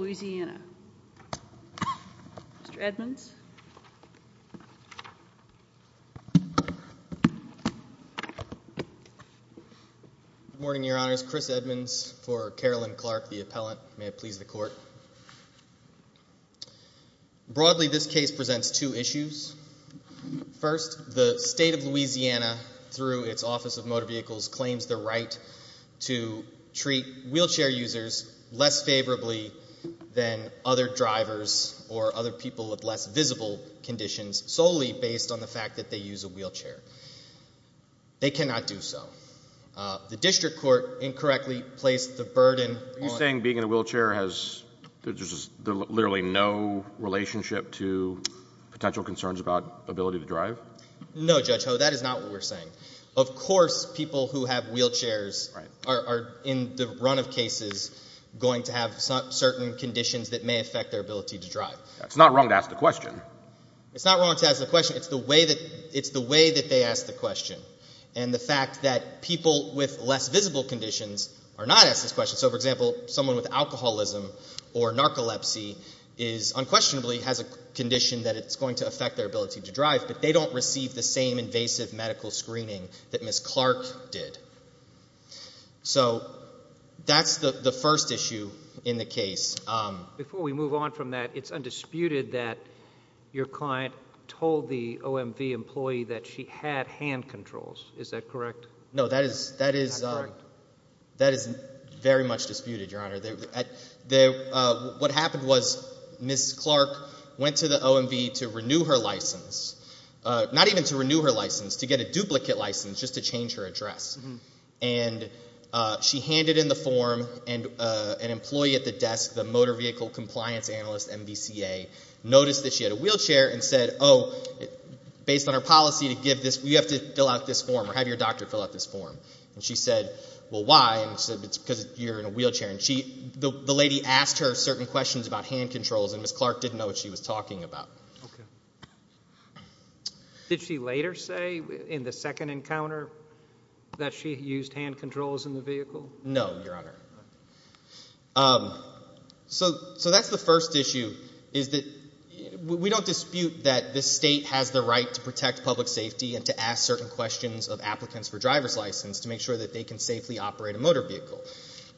Louisiana. Mr. Edmonds. Good morning, Your Honors. Chris Edmonds for Carolyn Clark, the appellant. May it please the Court. Broadly, this case presents two issues. First, the State of Louisiana, through its Office of Motor Vehicles, claims the right to treat wheelchair users less favorably than other drivers or other people with less visible conditions solely based on the fact that they use a wheelchair. They cannot do so. The District Court incorrectly placed the burden... Are you saying being in a wheelchair has... there's literally no relationship to potential concerns about ability to drive? No, Judge Ho, that in the run of cases going to have certain conditions that may affect their ability to drive. It's not wrong to ask the question. It's not wrong to ask the question. It's the way that they ask the question. And the fact that people with less visible conditions are not asked this question. So, for example, someone with alcoholism or narcolepsy is unquestionably has a condition that it's going to affect their ability to drive, but they don't receive the same invasive medical screening that Ms. Clark did. So, that's the first issue in the case. Before we move on from that, it's undisputed that your client told the OMV employee that she had hand controls. Is that correct? No, that is very much disputed, Your Honor. What happened was Ms. Clark went to the OMV to renew her license, not even to renew her license, to get a duplicate license just to change her address. And she handed in the form and an employee at the desk, the motor vehicle compliance analyst, MVCA, noticed that she had a wheelchair and said, oh, based on our policy to give this, we have to fill out this form or have your doctor fill out this form. And she said, well, why? And she said, it's because you're in a wheelchair. The lady asked her certain questions about hand controls and Ms. Clark didn't know what she was talking about. Did she later say in the second encounter that she used hand controls in the vehicle? No, Your Honor. So, that's the first issue is that we don't dispute that the state has the right to protect public safety and to ask certain questions of applicants for driver's license to make sure that they can safely operate a motor vehicle.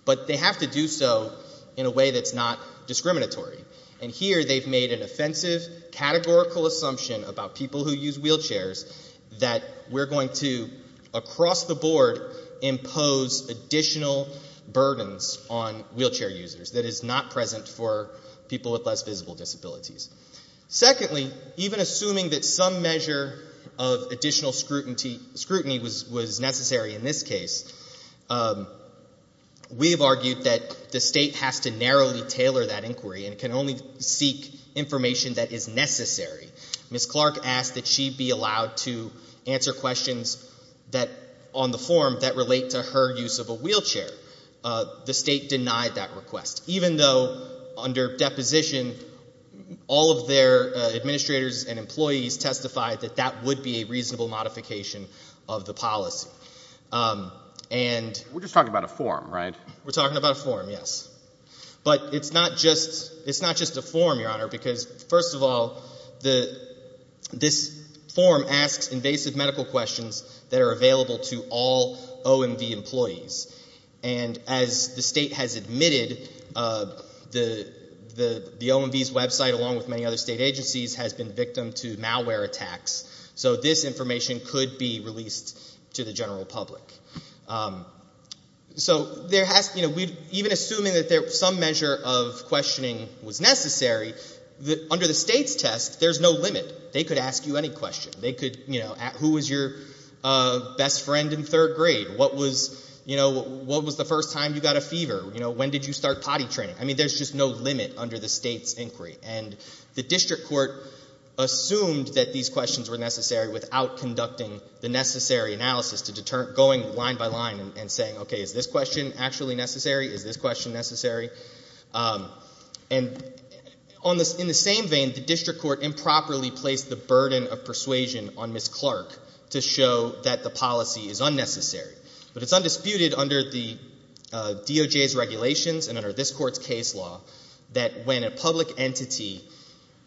But they have to do so in a way that's not discriminatory. And here they've made an offensive, categorical assumption about people who use wheelchairs that we're going to, across the board, impose additional burdens on wheelchair users that is not present for people with less visible disabilities. Secondly, even assuming that some measure of additional scrutiny was necessary in this case, we've argued that the state has to narrowly tailor that inquiry and can only seek information that is necessary. Ms. Clark asked that she be allowed to answer questions that, on the form, that relate to her use of a wheelchair. The state denied that request. Even though, under deposition, all of their administrators and employees testified that that would be a reasonable modification of the policy. And... We're just talking about a form, right? We're talking about a form, yes. But it's not just a form, Your Honor, because, first of all, this form asks invasive medical questions that are available to all OMV employees. And as the state has admitted, the OMV's website, along with many other state agencies, has been victim to malware attacks. So this information could be released to the general public. So there has, you know, even assuming that some measure of questioning was necessary, under the state's test, there's no limit. They could ask you any question. They could, you know, who was your best friend in third grade? What was, you know, what was the first time you got a fever? You know, when did you start potty training? I mean, there's just no limit under the state's inquiry. And the district court assumed that these questions were necessary without conducting the necessary analysis to deter, going line by line and saying, okay, is this question actually necessary? Is this question necessary? And on this, in the same vein, the district court improperly placed the burden of persuasion on Ms. Clark to show that the policy is unnecessary. But it's undisputed under the DOJ's regulations and under this court's case law that when a public entity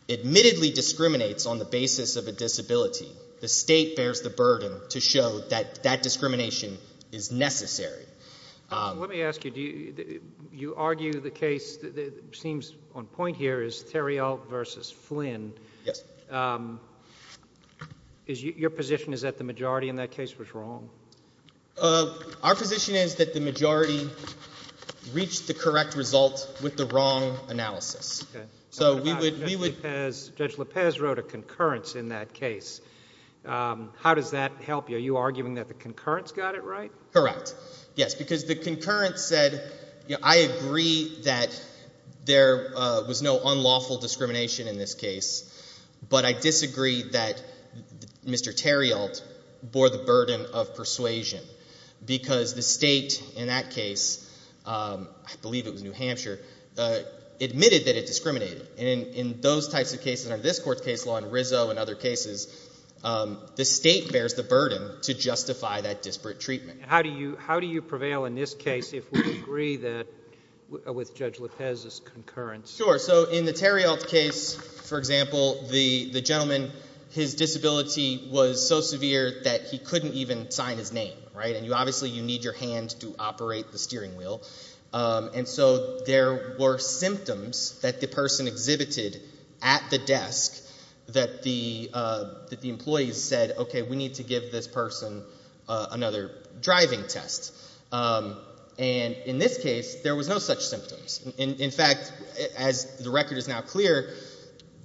admittedly discriminates on the basis of a disability, the state bears the burden to show that that discrimination is necessary. Let me ask you, do you argue the case that seems on point here is Theriault v. Flynn. Yes. Is your position is that the majority in that case was wrong? Our position is that the majority reached the correct result with the wrong analysis. So we would Judge Lopez wrote a concurrence in that case. How does that help you? Are you arguing that the concurrence got it right? Correct. Yes, because the concurrence said, you know, I agree that there was no unlawful discrimination in this case, but I disagree that Mr. Theriault bore the burden of persuasion because the state in that case, I believe it was New Hampshire, admitted that it discriminated. In those types of cases under this court's case law and Rizzo and other cases, the state bears the burden to justify that disparate treatment. How do you prevail in this case if we agree that with Judge Lopez's concurrence? In the Theriault case, for example, the gentleman, his disability was so severe that he couldn't even sign his name. Obviously you need your hand to operate the steering wheel. So there were symptoms that the person exhibited at the desk that the employees said, okay, we need to give this person another driving test. In this case, there was no such symptoms. In fact, as the record is now clear,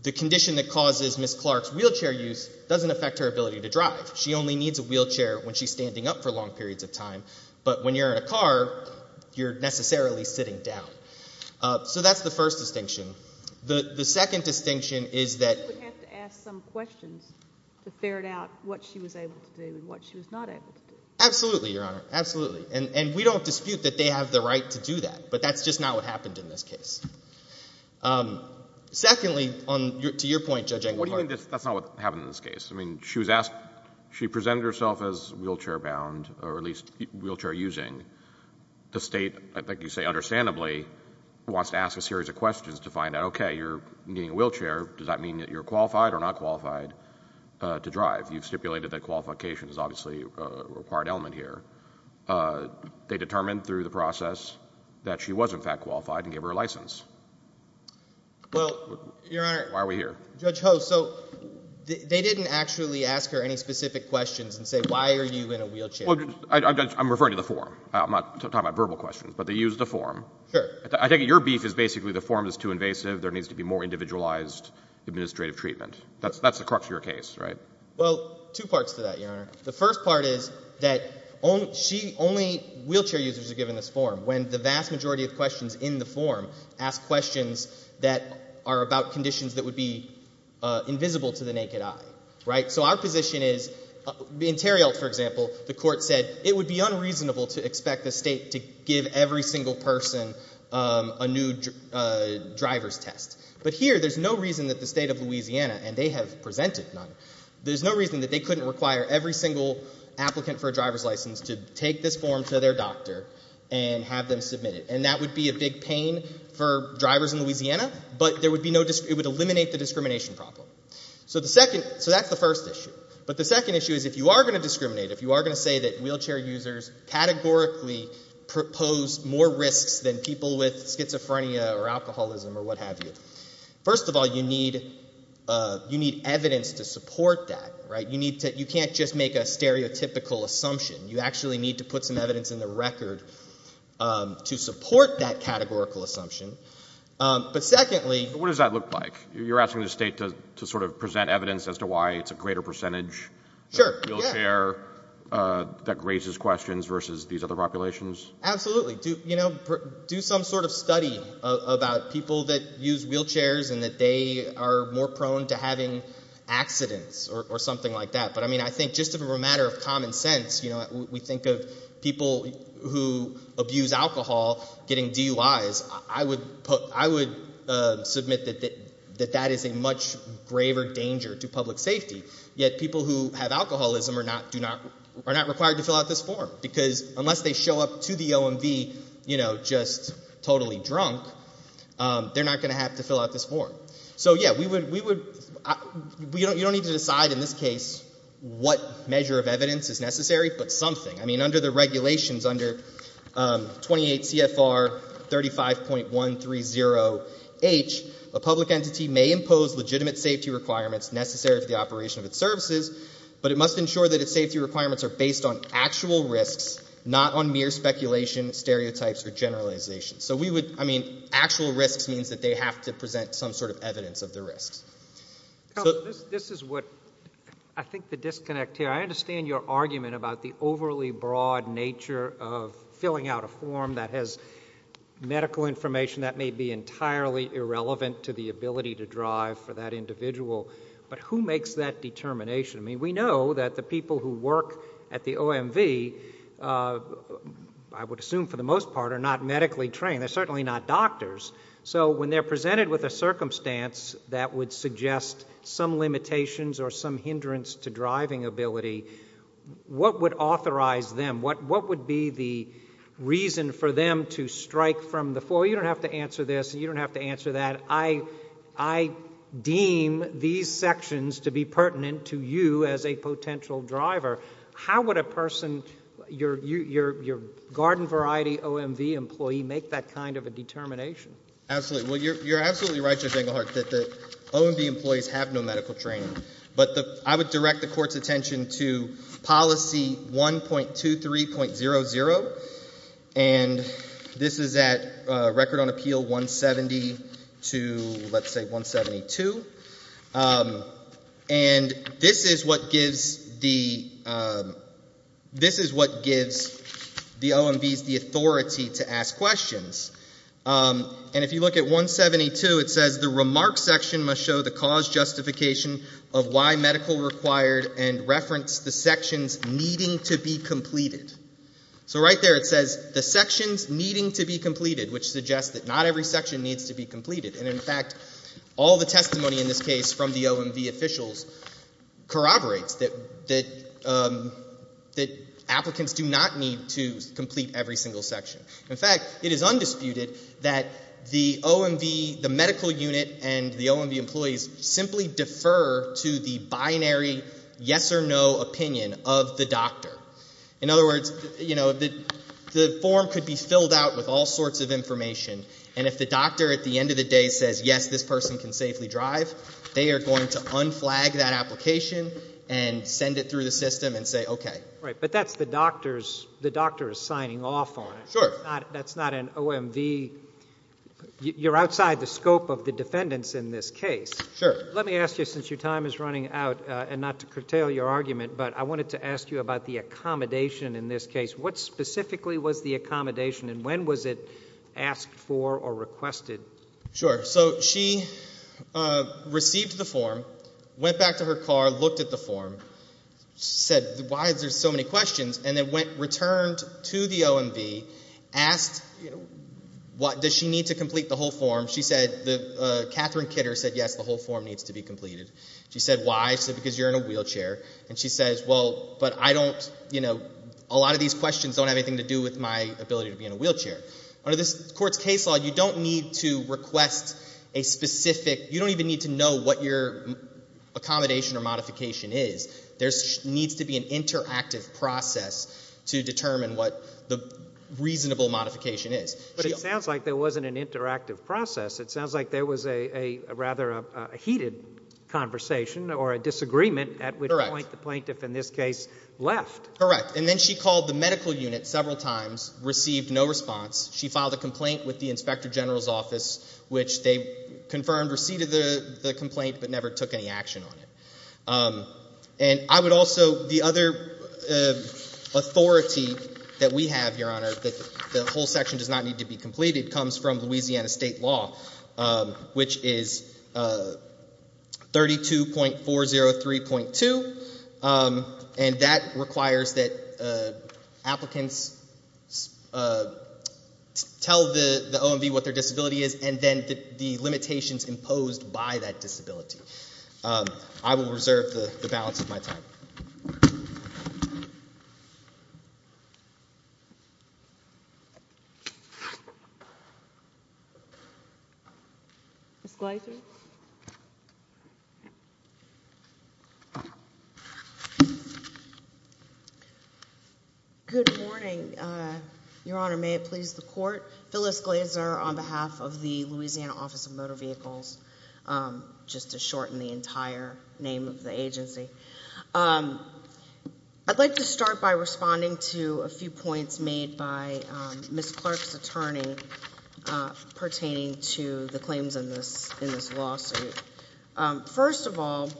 the condition that causes Ms. Clark's wheelchair use doesn't affect her ability to drive. She only needs a wheelchair when she's standing up for long periods of time. But when you're in a car, you're necessarily sitting down. So that's the first distinction. The second distinction is that- She would have to ask some questions to ferret out what she was able to do and what she was not able to do. Absolutely, Your Honor. Absolutely. And we don't dispute that they have the right to do that. But that's just not what happened in this case. Secondly, to your point, Judge Engler- What do you mean that's not what happened in this case? I mean, she presented herself as wheelchair-bound, or at least wheelchair-using. The state, I think you say understandably, wants to ask a series of questions to find out, okay, you're needing a wheelchair. Does that mean that you're qualified or not qualified to drive? You've stipulated that qualification is obviously a required element here. They determined through the process that she was in fact qualified and gave her a license. Well, Your Honor- Why are we here? Judge Ho, so they didn't actually ask her any specific questions and say, why are you in a wheelchair? Well, I'm referring to the form. I'm not talking about verbal questions. But they used the form. Sure. I think your beef is basically the form is too invasive. There needs to be more individualized administrative treatment. That's the crux of your case, right? Well, two parts to that, Your Honor. The first part is that only wheelchair users are given this form, when the vast majority of questions in the form ask questions that are about conditions that would be invisible to the naked eye, right? So our position is, in Terrial, for example, the court said it would be unreasonable to expect the state to give every single person a new driver's test. But here, there's no reason that the state of Louisiana, and they have presented none, there's no reason that they couldn't require every single applicant for a driver's license to take this form to their doctor and have them submit it. And that would be a big pain for drivers in Louisiana, but it would eliminate the discrimination problem. So that's the first issue. But the second issue is, if you are going to discriminate, if you are going to say that wheelchair users categorically propose more risks than people with schizophrenia or alcoholism or what have you, first of all, you need evidence to support that, right? You can't just make a stereotypical assumption. You actually need to put some evidence in the record to support that categorical assumption. But secondly... What does that look like? You're asking the state to sort of present evidence as to why it's a greater percentage wheelchair that raises questions versus these other populations? Absolutely. Do some sort of study about people that use wheelchairs and that they are more prone to having accidents or something like that. But I think just as a matter of common sense, we think of people who abuse alcohol getting DUIs, I would submit that that is a much graver danger to public safety. Yet people who have alcoholism are not required to fill out this form, because unless they show up to the OMV, you know, just totally drunk, they're not going to have to fill out this form. So yeah, we would... You don't need to decide in this case what measure of evidence is necessary, but something. I mean, under the regulations, under 28 CFR 35.130H, a public entity may impose legitimate safety requirements necessary for the operation of its services, but it must ensure that its actual risks not on mere speculation, stereotypes, or generalizations. So we would... I mean, actual risks means that they have to present some sort of evidence of the risks. This is what I think the disconnect here. I understand your argument about the overly broad nature of filling out a form that has medical information that may be entirely irrelevant to the ability to drive for that individual, but who makes that determination? I mean, we know that the people who work at the OMV, I would assume for the most part, are not medically trained. They're certainly not doctors. So when they're presented with a circumstance that would suggest some limitations or some hindrance to driving ability, what would authorize them? What would be the reason for them to strike from the floor? You don't have to answer this. You don't have to answer that. I deem these sections to be pertinent to you as a potential driver. How would a person, your garden variety OMV employee, make that kind of a determination? Absolutely. Well, you're absolutely right, Judge Engelhardt, that the OMV employees have no medical training. But I would direct the Court's attention to policy 1.23.00, and this is at Record on Appeal 170 to, let's say, 172. And this is what gives the OMVs the authority to ask questions. And if you look at 172, it says, the remark section must show the cause justification of why medical required and reference the sections needing to be completed. So right there it says, the sections needing to be completed, which suggests that not every section needs to be completed. And, in fact, all the testimony in this case from the OMV officials corroborates that applicants do not need to complete every single section. In fact, it is undisputed that the OMV, the medical unit and the OMV employees simply defer to the binary yes or no opinion of the doctor. In other words, you know, the form could be filled out with all sorts of information, and if the doctor at the end of the day says, yes, this person can safely drive, they are going to unflag that application and send it through the system and say, okay. Right. But that's the doctor's, the doctor is signing off on it. Sure. That's not an OMV, you're outside the scope of the defendants in this case. Sure. Let me ask you, since your time is running out, and not to curtail your argument, but I wanted to ask you about the accommodation in this case. What specifically was the accommodation and when was it asked for or requested? Sure. So she received the form, went back to her car, looked at the form, said, why is there so many questions, and then went, returned to the OMV, asked, does she need to complete the whole form? She said, Catherine Kidder said, yes, the whole form needs to be completed. She said, why? She said, because you're in a wheelchair. And she says, well, but I don't, you know, a lot of these questions don't have anything to do with my ability to be in a wheelchair. Under this court's case law, you don't need to request a specific, you don't even need to know what your accommodation or modification is. There needs to be an interactive process to determine what the reasonable modification is. But it sounds like there wasn't an interactive process. It sounds like there was a, rather a heated conversation or a disagreement at which point the plaintiff, in this case, left. Correct. And then she called the medical unit several times, received no response. She filed a complaint with the Inspector General's office, which they confirmed received the complaint, but never took any action on it. And I would also, the other authority that we have, Your Honor, to be completed comes from Louisiana state law, which is 32.403.2. And that requires that applicants tell the OMB what their disability is and then the limitations imposed by that disability. I will reserve the balance of my time. Ms. Gleiser? Good morning, Your Honor. May it please the Court? Phyllis Gleiser on behalf of the Louisiana Office of Motor Vehicles, just to shorten the entire name of the agency. I'd like to say a few words pertaining to the claims in this lawsuit. First of all,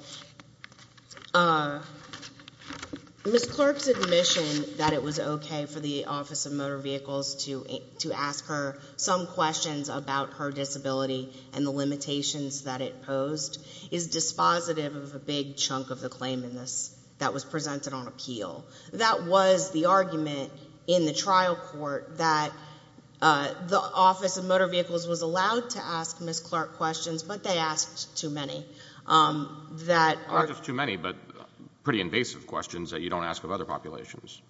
Ms. Clark's admission that it was okay for the Office of Motor Vehicles to ask her some questions about her disability and the limitations that it posed is dispositive of a big chunk of the claim in this that was presented on appeal. That was the argument in the trial court that the Office of Motor Vehicles was allowed to ask Ms. Clark questions, but they asked too many that are Not just too many, but pretty invasive questions that you don't ask of other populations.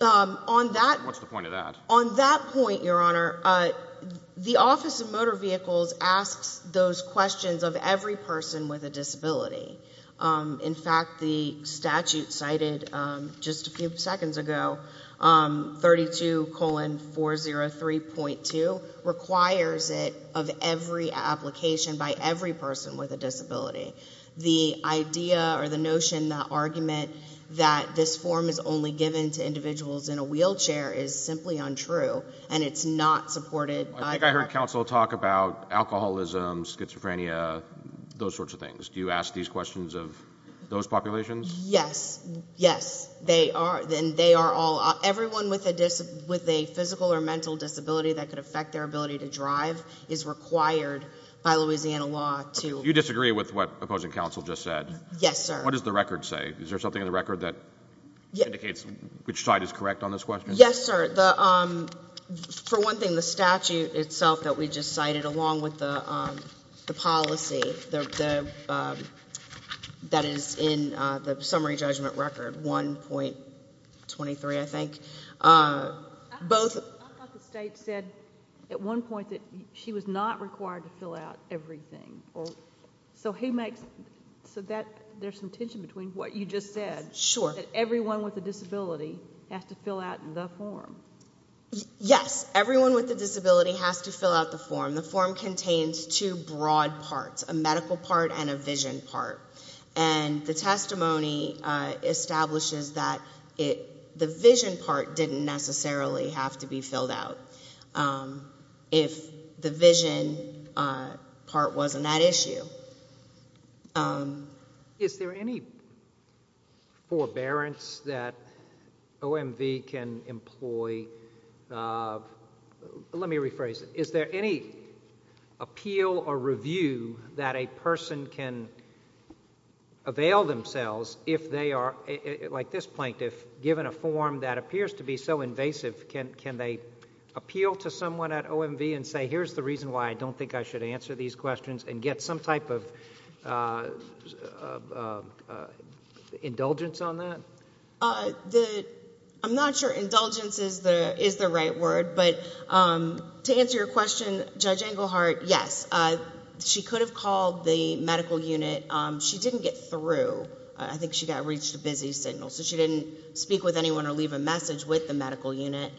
On that What's the point of that? On that point, Your Honor, the Office of Motor Vehicles asks those questions of every person with a disability. In fact, the statute cited just a few seconds ago, 32.403.2, which is the statute, requires it of every application by every person with a disability. The idea or the notion, the argument that this form is only given to individuals in a wheelchair is simply untrue, and it's not supported by I think I heard counsel talk about alcoholism, schizophrenia, those sorts of things. Do you ask these questions of those populations? Yes. Yes. They are. Everyone with a physical or mental disability that could affect their ability to drive is required by Louisiana law to You disagree with what opposing counsel just said? Yes, sir. What does the record say? Is there something in the record that indicates which side is correct on this question? Yes, sir. For one thing, the statute itself that we just cited, along with the policy that is in the summary judgment record, 1.23, I think, both I thought the state said at one point that she was not required to fill out everything. So there's some tension between what you just said. Sure. That everyone with a disability has to fill out the form. Yes. Everyone with a disability has to fill out the form. The form contains two broad parts, a medical part and a vision part. And the testimony establishes that the vision part didn't necessarily have to be filled out if the vision part wasn't that issue. Is there any forbearance that OMV can employ? Let me rephrase it. Is there any appeal or review that a person can avail themselves if they are, like this plaintiff, given a form that appears to be so invasive, can they appeal to someone at OMV and say, here's the reason why I don't think I should answer these questions and get some type of indulgence on that? I'm not sure indulgence is the right word. But to answer your question, Judge Englehart, yes. She could have called the medical unit. She didn't get through. I think she got reached a busy signal. So she didn't speak with anyone or leave a message with the medical unit.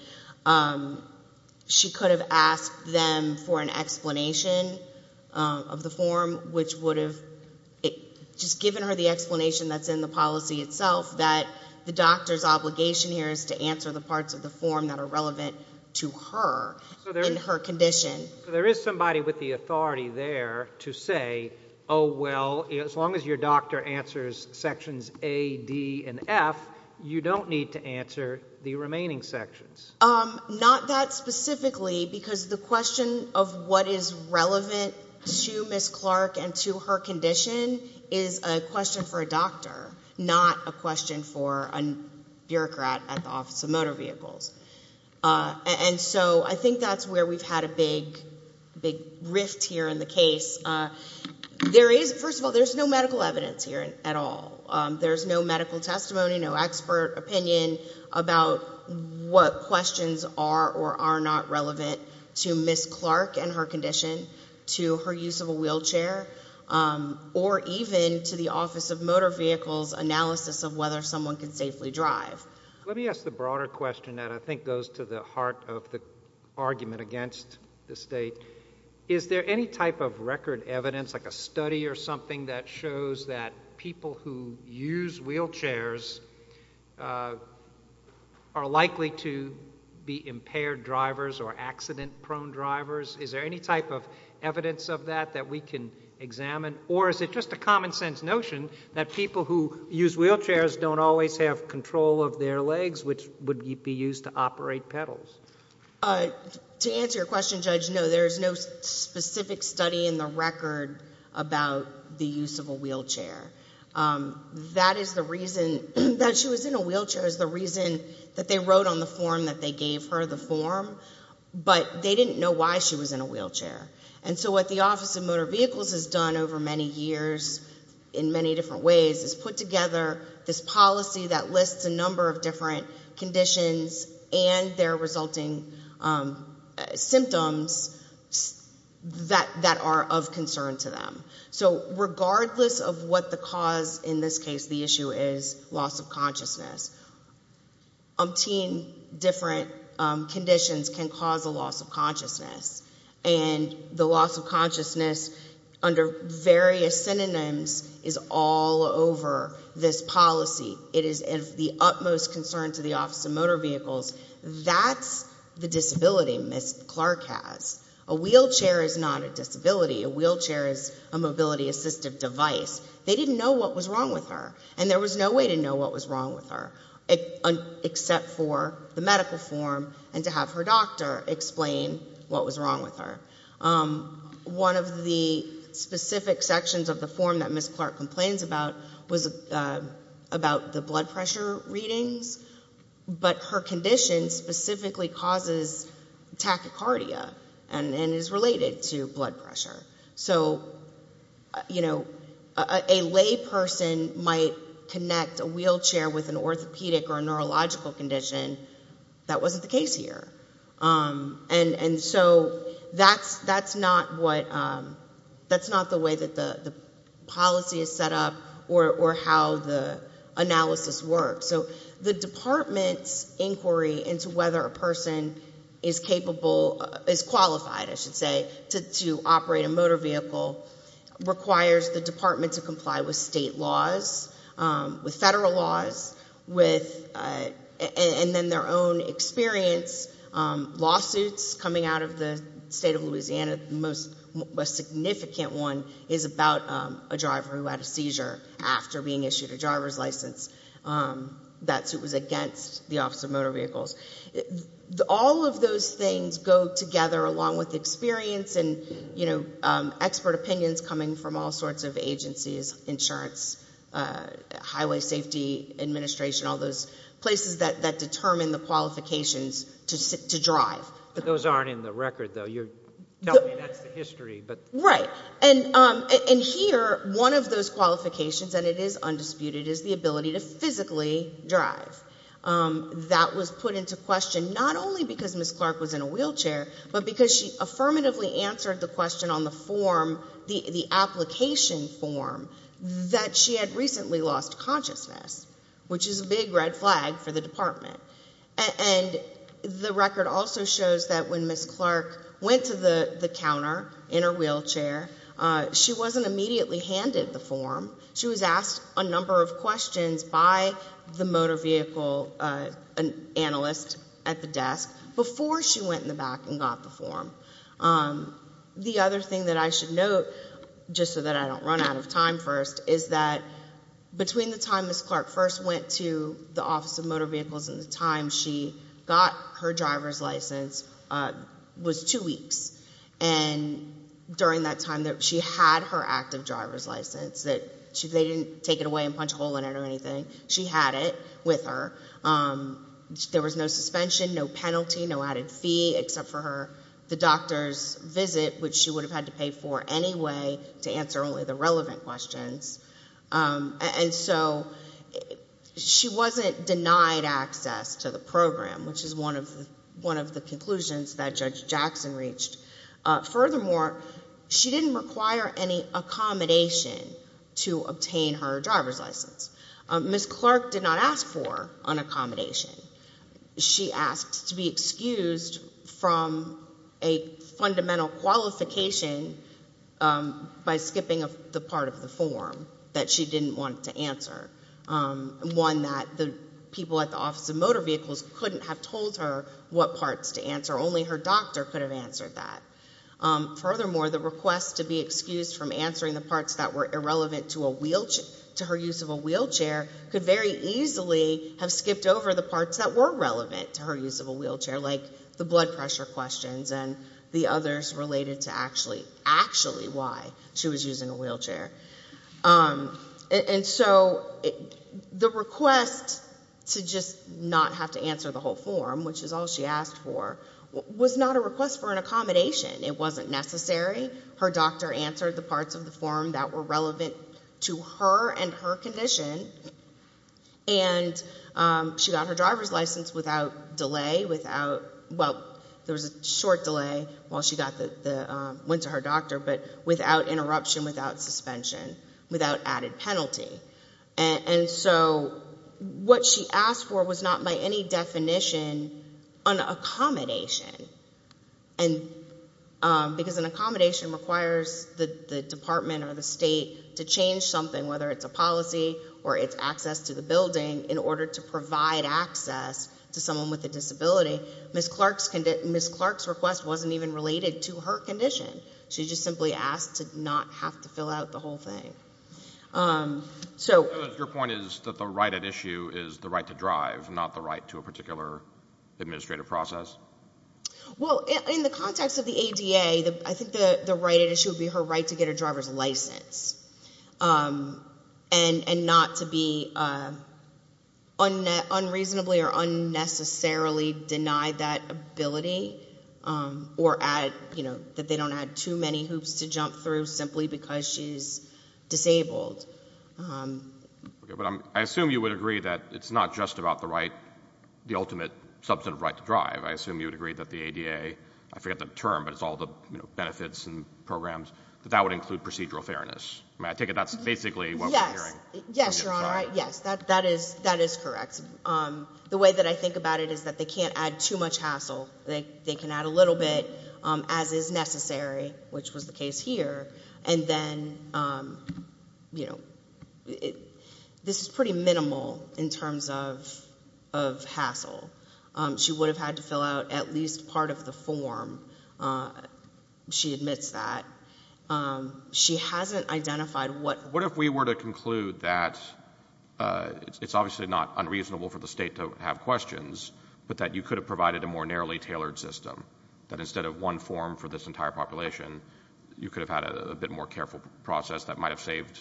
She could have asked them for an explanation of the form, which would have just given her the explanation that's in the policy itself, that the doctor's obligation here is to answer the parts of the form that are relevant to her and her condition. So there is somebody with the authority there to say, oh, well, as long as your doctor answers sections A, D, and F, you don't need to answer the remaining sections. Not that specifically, because the question of what is relevant to Ms. Clark and to her condition is a question for a doctor, not a question for a bureaucrat at the Office of Motor Vehicles. And so I think that's where we've had a big rift here in the case. First of all, there's no medical evidence here at all. There's no medical testimony, no expert opinion about what questions are or are not relevant to Ms. Clark and her condition, to her use of a wheelchair, or even to the Office of Motor Vehicles' analysis of whether someone can safely drive. Let me ask the broader question that I think goes to the heart of the argument against this state. Is there any type of record evidence, like a study or something, that shows that people who use wheelchairs are likely to be impaired drivers or accident-prone drivers? Is there any type of evidence of that that we can examine? Or is it just a common-sense notion that people who use wheelchairs don't always have control of their legs, which would be used to operate pedals? To answer your question, Judge, no, there's no specific study in the record about the use of a wheelchair. That is the reason that she was in a wheelchair is the reason that they wrote on the form that they gave her the form, but they didn't know why she was in a wheelchair. And so what the Office of Motor Vehicles has done over many years in many different ways is put together this policy that lists a number of different conditions and their resulting symptoms that are of concern to them. So regardless of what the cause, in this case, the issue is loss of consciousness, umpteen different conditions can cause a loss of consciousness. And the loss of consciousness under various synonyms is all over this policy. It is of the utmost concern to the Office of Motor Vehicles. That's the disability Ms. Clark has. A wheelchair is not a disability. A wheelchair is a mobility-assistive device. They didn't know what was wrong with her, and there was no way to know what was wrong with her, except for the medical form and to have her doctor explain what was wrong with her. One of the specific sections of the form that Ms. Clark complains about was about the blood pressure readings, but her condition specifically causes tachycardia and is related to blood pressure. So, you know, a lay person might connect a wheelchair with an orthopedic or a neurological condition. That wasn't the case. And so that's not the way that the policy is set up or how the analysis works. So the department's inquiry into whether a person is capable, is qualified, I should say, to operate a motor vehicle requires the department to comply with state laws, with lawsuits coming out of the state of Louisiana. The most significant one is about a driver who had a seizure after being issued a driver's license. That suit was against the Office of Motor Vehicles. All of those things go together along with experience and expert opinions coming from all sorts of agencies, insurance, Highway Safety Administration, all those places that determine the qualifications to drive. Those aren't in the record, though. You're telling me that's the history. Right. And here, one of those qualifications, and it is undisputed, is the ability to physically drive. That was put into question not only because Ms. Clark was in a wheelchair, but because she affirmatively answered the question on the form, the big red flag for the department. And the record also shows that when Ms. Clark went to the counter in her wheelchair, she wasn't immediately handed the form. She was asked a number of questions by the motor vehicle analyst at the desk before she went in the back and got the form. The other thing that I should note, just so that I don't run out of time first, is that between the time Ms. Clark first went to the Office of Motor Vehicles and the time she got her driver's license was two weeks. And during that time, she had her active driver's license. They didn't take it away and punch a hole in it or anything. She had it with her. There was no suspension, no penalty, no added fee, except for the doctor's visit, which she would have had to pay for anyway to answer only the question. And so she wasn't denied access to the program, which is one of the conclusions that Judge Jackson reached. Furthermore, she didn't require any accommodation to obtain her driver's license. Ms. Clark did not ask for an accommodation. She asked to be excused from a fundamental qualification by skipping the part of the form that she didn't want to answer, one that the people at the Office of Motor Vehicles couldn't have told her what parts to answer. Only her doctor could have answered that. Furthermore, the request to be excused from answering the parts that were irrelevant to her use of a wheelchair could very easily have skipped over the parts that were relevant to her use of a wheelchair, like the blood pressure questions and the others related to actually why she was using a wheelchair. And so the request to just not have to answer the whole form, which is all she asked for, was not a request for an accommodation. It wasn't necessary. Her doctor answered the parts of the form that were relevant to her and her condition, and she got her driver's license in LA, went to her doctor, but without interruption, without suspension, without added penalty. And so what she asked for was not by any definition an accommodation, because an accommodation requires the department or the state to change something, whether it's a policy or it's access to the building, in order to her condition. She just simply asked to not have to fill out the whole thing. Your point is that the right at issue is the right to drive, not the right to a particular administrative process? Well, in the context of the ADA, I think the right at issue would be her right to get her driver's license and not to be unreasonably or unnecessarily denied that ability or that they don't add too many hoops to jump through simply because she's disabled. I assume you would agree that it's not just about the ultimate substantive right to drive. I assume you would agree that the ADA, I forget the term, but it's all the benefits and programs, that that would include procedural fairness. I take it that's basically what we're hearing. Yes, Your Honor. Yes, that is correct. The way that I think about it is that they can't add too much hassle. They can add a little bit, as is necessary, which was the case here. And then, you know, this is pretty minimal in terms of hassle. She would have had to fill out at least part of the form. She admits that. She hasn't identified what What if we were to conclude that it's obviously not unreasonable for the state to have questions, but that you could have provided a more narrowly tailored system, that instead of one form for this entire population, you could have had a bit more careful process that might have saved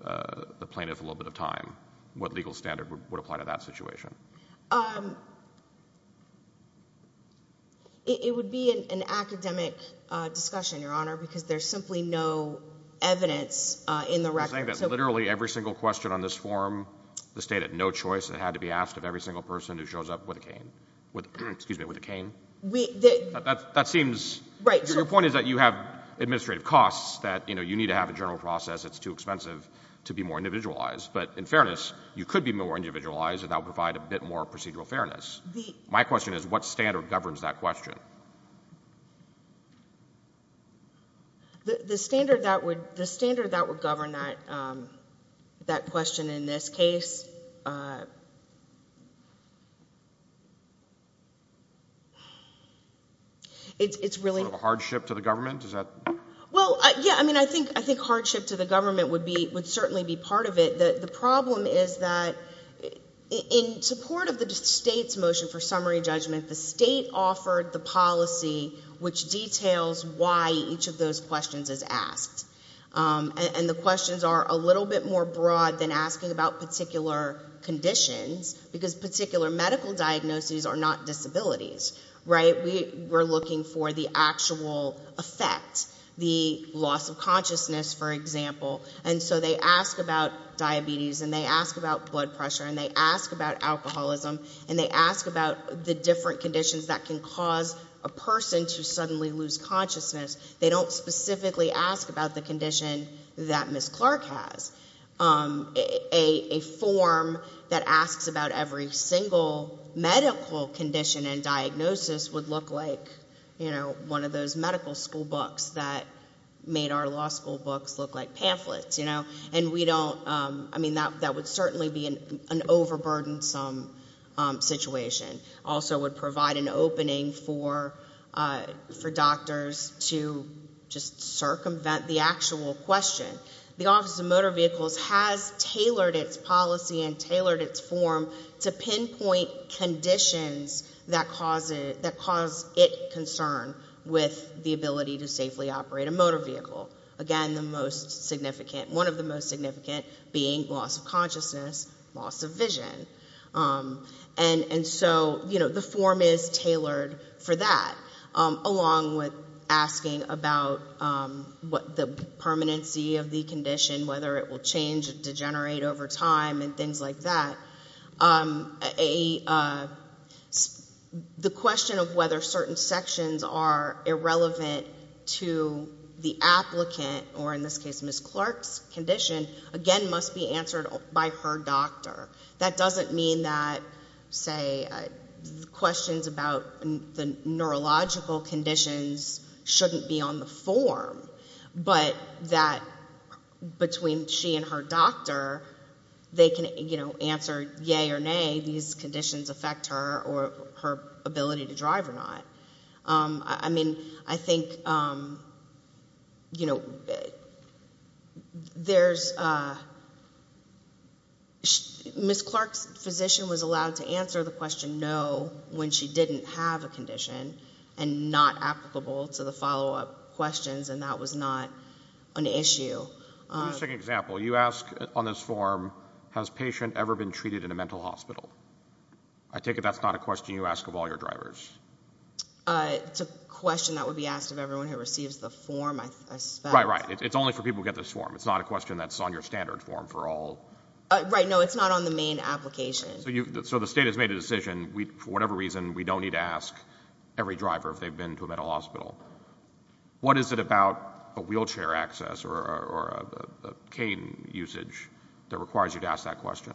the plaintiff a little bit of time? What legal standard would apply to that situation? It would be an academic discussion, Your Honor, because there's simply no evidence in the record. You're saying that literally every single question on this form, the state had no excuse me, with a cane? We That seems Right Your point is that you have administrative costs that, you know, you need to have a general process. It's too expensive to be more individualized. But in fairness, you could be more individualized, and that would provide a bit more procedural fairness. My question is, what standard governs that question? The standard that would govern that question in this case, it's really Sort of a hardship to the government? Well, yeah, I mean, I think hardship to the government would certainly be part of it. The problem is that in support of the state's motion for summary judgment, the state offered the policy which details why each of those questions is asked. And the questions are a little bit more broad than asking about particular conditions, because particular medical diagnoses are not disabilities, right? We're looking for the actual effect, the loss of consciousness, for example. And so they ask about diabetes, and they ask about blood pressure, and they ask about alcoholism, and they ask about the different conditions that can cause a person to suddenly lose consciousness. They don't specifically ask about the condition that Ms. Clark has. A form that asks about every single medical condition and diagnosis would look like, you know, one of those medical school books that made our law school books look like this situation. Also would provide an opening for doctors to just circumvent the actual question. The Office of Motor Vehicles has tailored its policy and tailored its form to pinpoint conditions that cause it concern with the ability to safely operate a motor vehicle. Again, one of the most significant being loss of consciousness, loss of vision. And so, you know, the form is tailored for that, along with asking about what the permanency of the condition, whether it will change and degenerate over time and things like that. The question of whether certain sections are irrelevant to the applicant, or in this case Ms. Clark's condition, again must be answered by her doctor. That doesn't mean that, say, questions about the neurological conditions shouldn't be on the form. But that between she and her doctor, they can, you know, answer yay or nay, these conditions affect her or her ability to drive or not. I mean, I think, you know, there's Ms. Clark's position was allowed to answer the question no when she didn't have a condition and not applicable to the follow-up questions, and that was not an issue. Let me take an example. You ask on this form, has patient ever been treated in a mental hospital? I take it that's not a question you ask of all your drivers. It's a question that would be asked of everyone who receives the form, I suspect. Right, right. It's only for people who get this form. It's not a question that's on your standard form for all. Right, no, it's not on the main application. So the state has made a decision, for whatever reason, we don't need to ask every driver if they've been to a mental hospital. What is it about a wheelchair access or a cane usage that requires you to ask that question?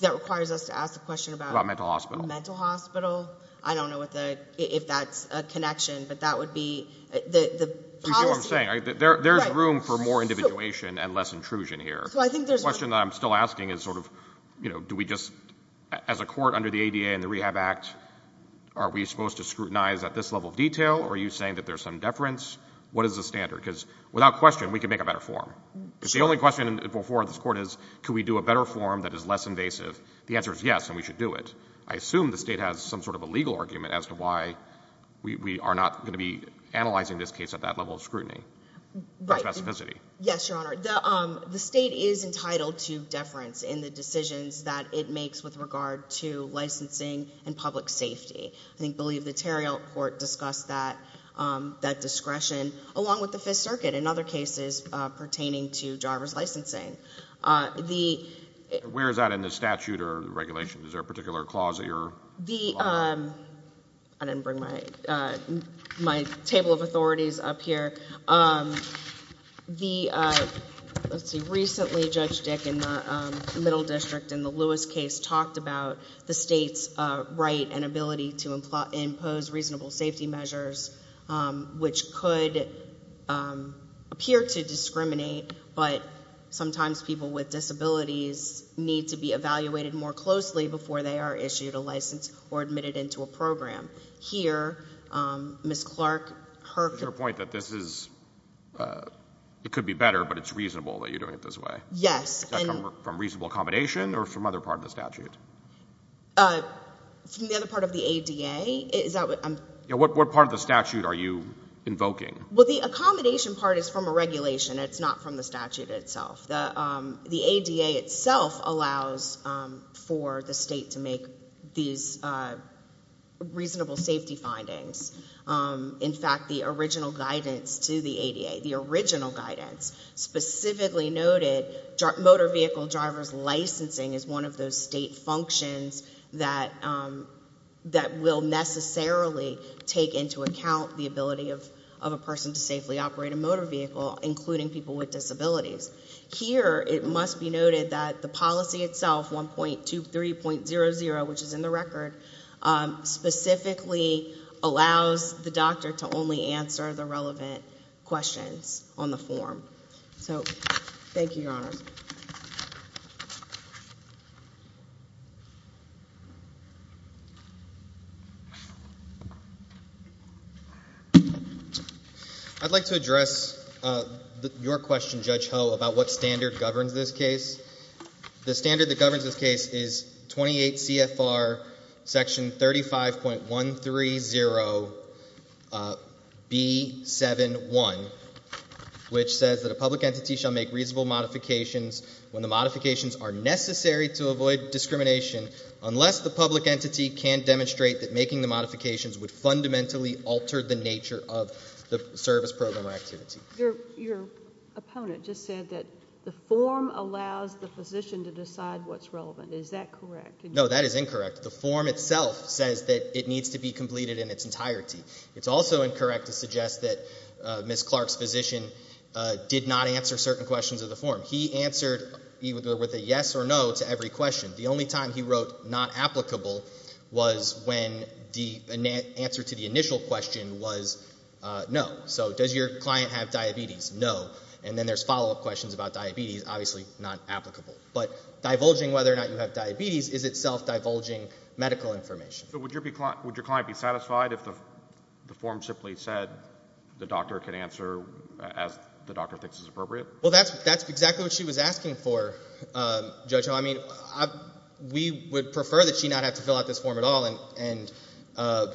That requires us to ask the question about... About mental hospital. Mental hospital. I don't know if that's a connection, but that would be... You see what I'm saying? There's room for more individuation and less intrusion here. So I think there's... The question that I'm still asking is sort of, you know, do we just... As a court under the ADA and the Rehab Act, are we supposed to scrutinize at this level of detail, or are you saying that there's some deference? What is the standard? Because without question, we can make a better form. Sure. Because the only question before this court is, can we do a better form that is less invasive? The answer is yes, and we should do it. I assume the state has some sort of a legal argument as to why we are not going to be analyzing this case at that level of scrutiny. Right. Or specificity. Yes, Your Honor. The state is entitled to deference in the decisions that it makes with regard to licensing and public safety. I believe the Tarrel Court discussed that discretion, along with the Fifth Circuit, and other cases pertaining to driver's licensing. Where is that in the statute or regulation? Is there a particular clause that you're... I didn't bring my table of authorities up here. Let's see. Recently, Judge Dick in the Middle District in the Lewis case talked about the state's right and ability to impose reasonable safety measures, which could appear to discriminate, but sometimes people with disabilities need to be evaluated more closely before they are issued a license or admitted into a program. Here, Ms. Clark, her... To your point that this is, it could be better, but it's reasonable that you're doing it this way. Yes. Is that from reasonable accommodation or from other part of the statute? From the other part of the ADA? What part of the statute are you invoking? Well, the accommodation part is from a regulation. It's not from the statute itself. The ADA itself allows for the state to make these reasonable safety findings. In fact, the original guidance to the ADA, the original guidance specifically noted motor vehicle driver's licensing is one of those state functions that will necessarily take into account the ability of a person to safely operate a motor vehicle, including people with disabilities. Here, it must be noted that the policy itself, 1.23.00, which is in the record, specifically allows the doctor to only answer the relevant questions on the form. So, thank you, Your Honors. I'd like to address your question, Judge Ho, about what standard governs this case. The standard that governs this case is 28 CFR section 35.130B71, which says that a public entity shall make reasonable modifications when the modifications are necessary to avoid discrimination, unless the public entity can demonstrate that making the modifications would fundamentally alter the nature of the service program or activity. Your opponent just said that the form allows the physician to decide what's relevant. Is that correct? No, that is incorrect. The form itself says that it needs to be completed in its entirety. It's also incorrect to suggest that Ms. Clark's physician did not answer certain questions of the form. He answered either with a yes or no to every question. The only time he wrote not applicable was when the answer to the initial question was no. So, does your client have diabetes? No. And then there's follow-up questions about diabetes, obviously not applicable. But divulging whether or not you have diabetes is itself divulging medical information. Would your client be satisfied if the form simply said the doctor can answer as the doctor thinks is appropriate? Well, that's exactly what she was asking for, Judge Ho. I mean, we would prefer that she not have to fill out this form at all,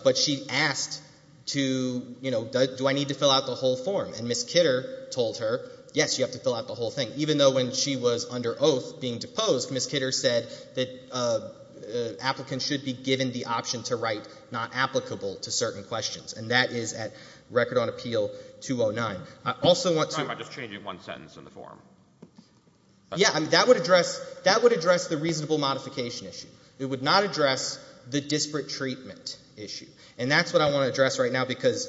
but she asked to, you know, do I need to fill out the whole form? And Ms. Kidder told her, yes, you have to fill out the whole thing. Even though when she was under oath being deposed, Ms. Kidder said that applicants should be given the option to write not applicable to certain questions. And that is at Record on Appeal 209. I'm sorry, but I'm just changing one sentence in the form. Yeah, I mean, that would address the reasonable modification issue. It would not address the disparate treatment issue. And that's what I want to address right now because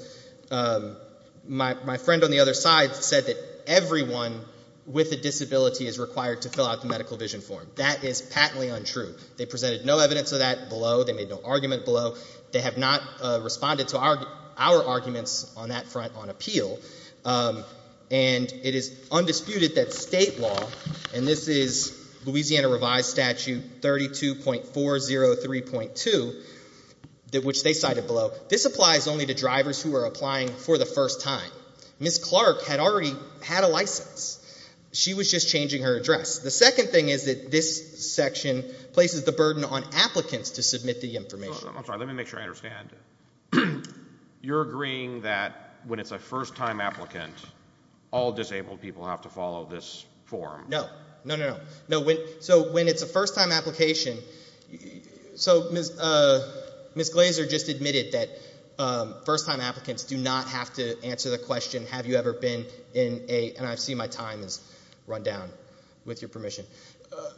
my friend on the other side said that everyone with a disability is required to fill out the medical vision form. That is patently untrue. They presented no evidence of that below. They made no argument below. They have not responded to our arguments on that front on appeal. And it is undisputed that state law, and this is Louisiana revised statute 32.403.2, which they cited below, this applies only to drivers who are applying for the first time. Ms. Clark had already had a license. She was just changing her address. The second thing is that this section places the burden on applicants to submit the information. I'm sorry, let me make sure I understand. You're agreeing that when it's a first-time applicant, all disabled people have to follow this form? No. No, no, no. So when it's a first-time application, so Ms. Glaser just admitted that first-time applicants do not have to answer the question, have you ever been in a, and I see my time has run down, with your permission.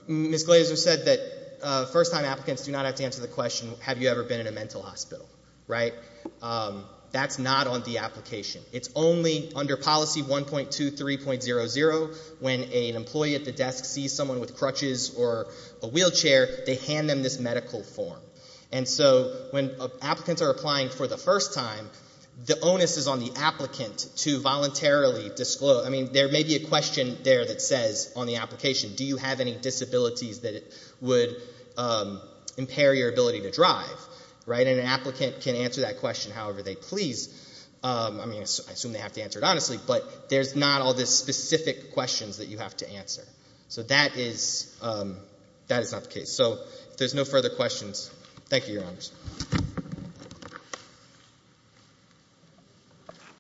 Ms. Glaser said that first-time applicants do not have to answer the question, have you ever been in a mental hospital, right? That's not on the application. It's only under policy 1.23.00 when an employee at the desk sees someone with crutches or a wheelchair, they hand them this medical form. And so when applicants are applying for the first time, the onus is on the applicant to voluntarily disclose. I mean, there may be a question there that says on the application, do you have any disabilities that would impair your ability to drive, right? And an applicant can answer that question however they please. I mean, I assume they have to answer it honestly, but there's not all the specific questions that you have to answer. So that is not the case. So if there's no further questions, thank you, Your Honors.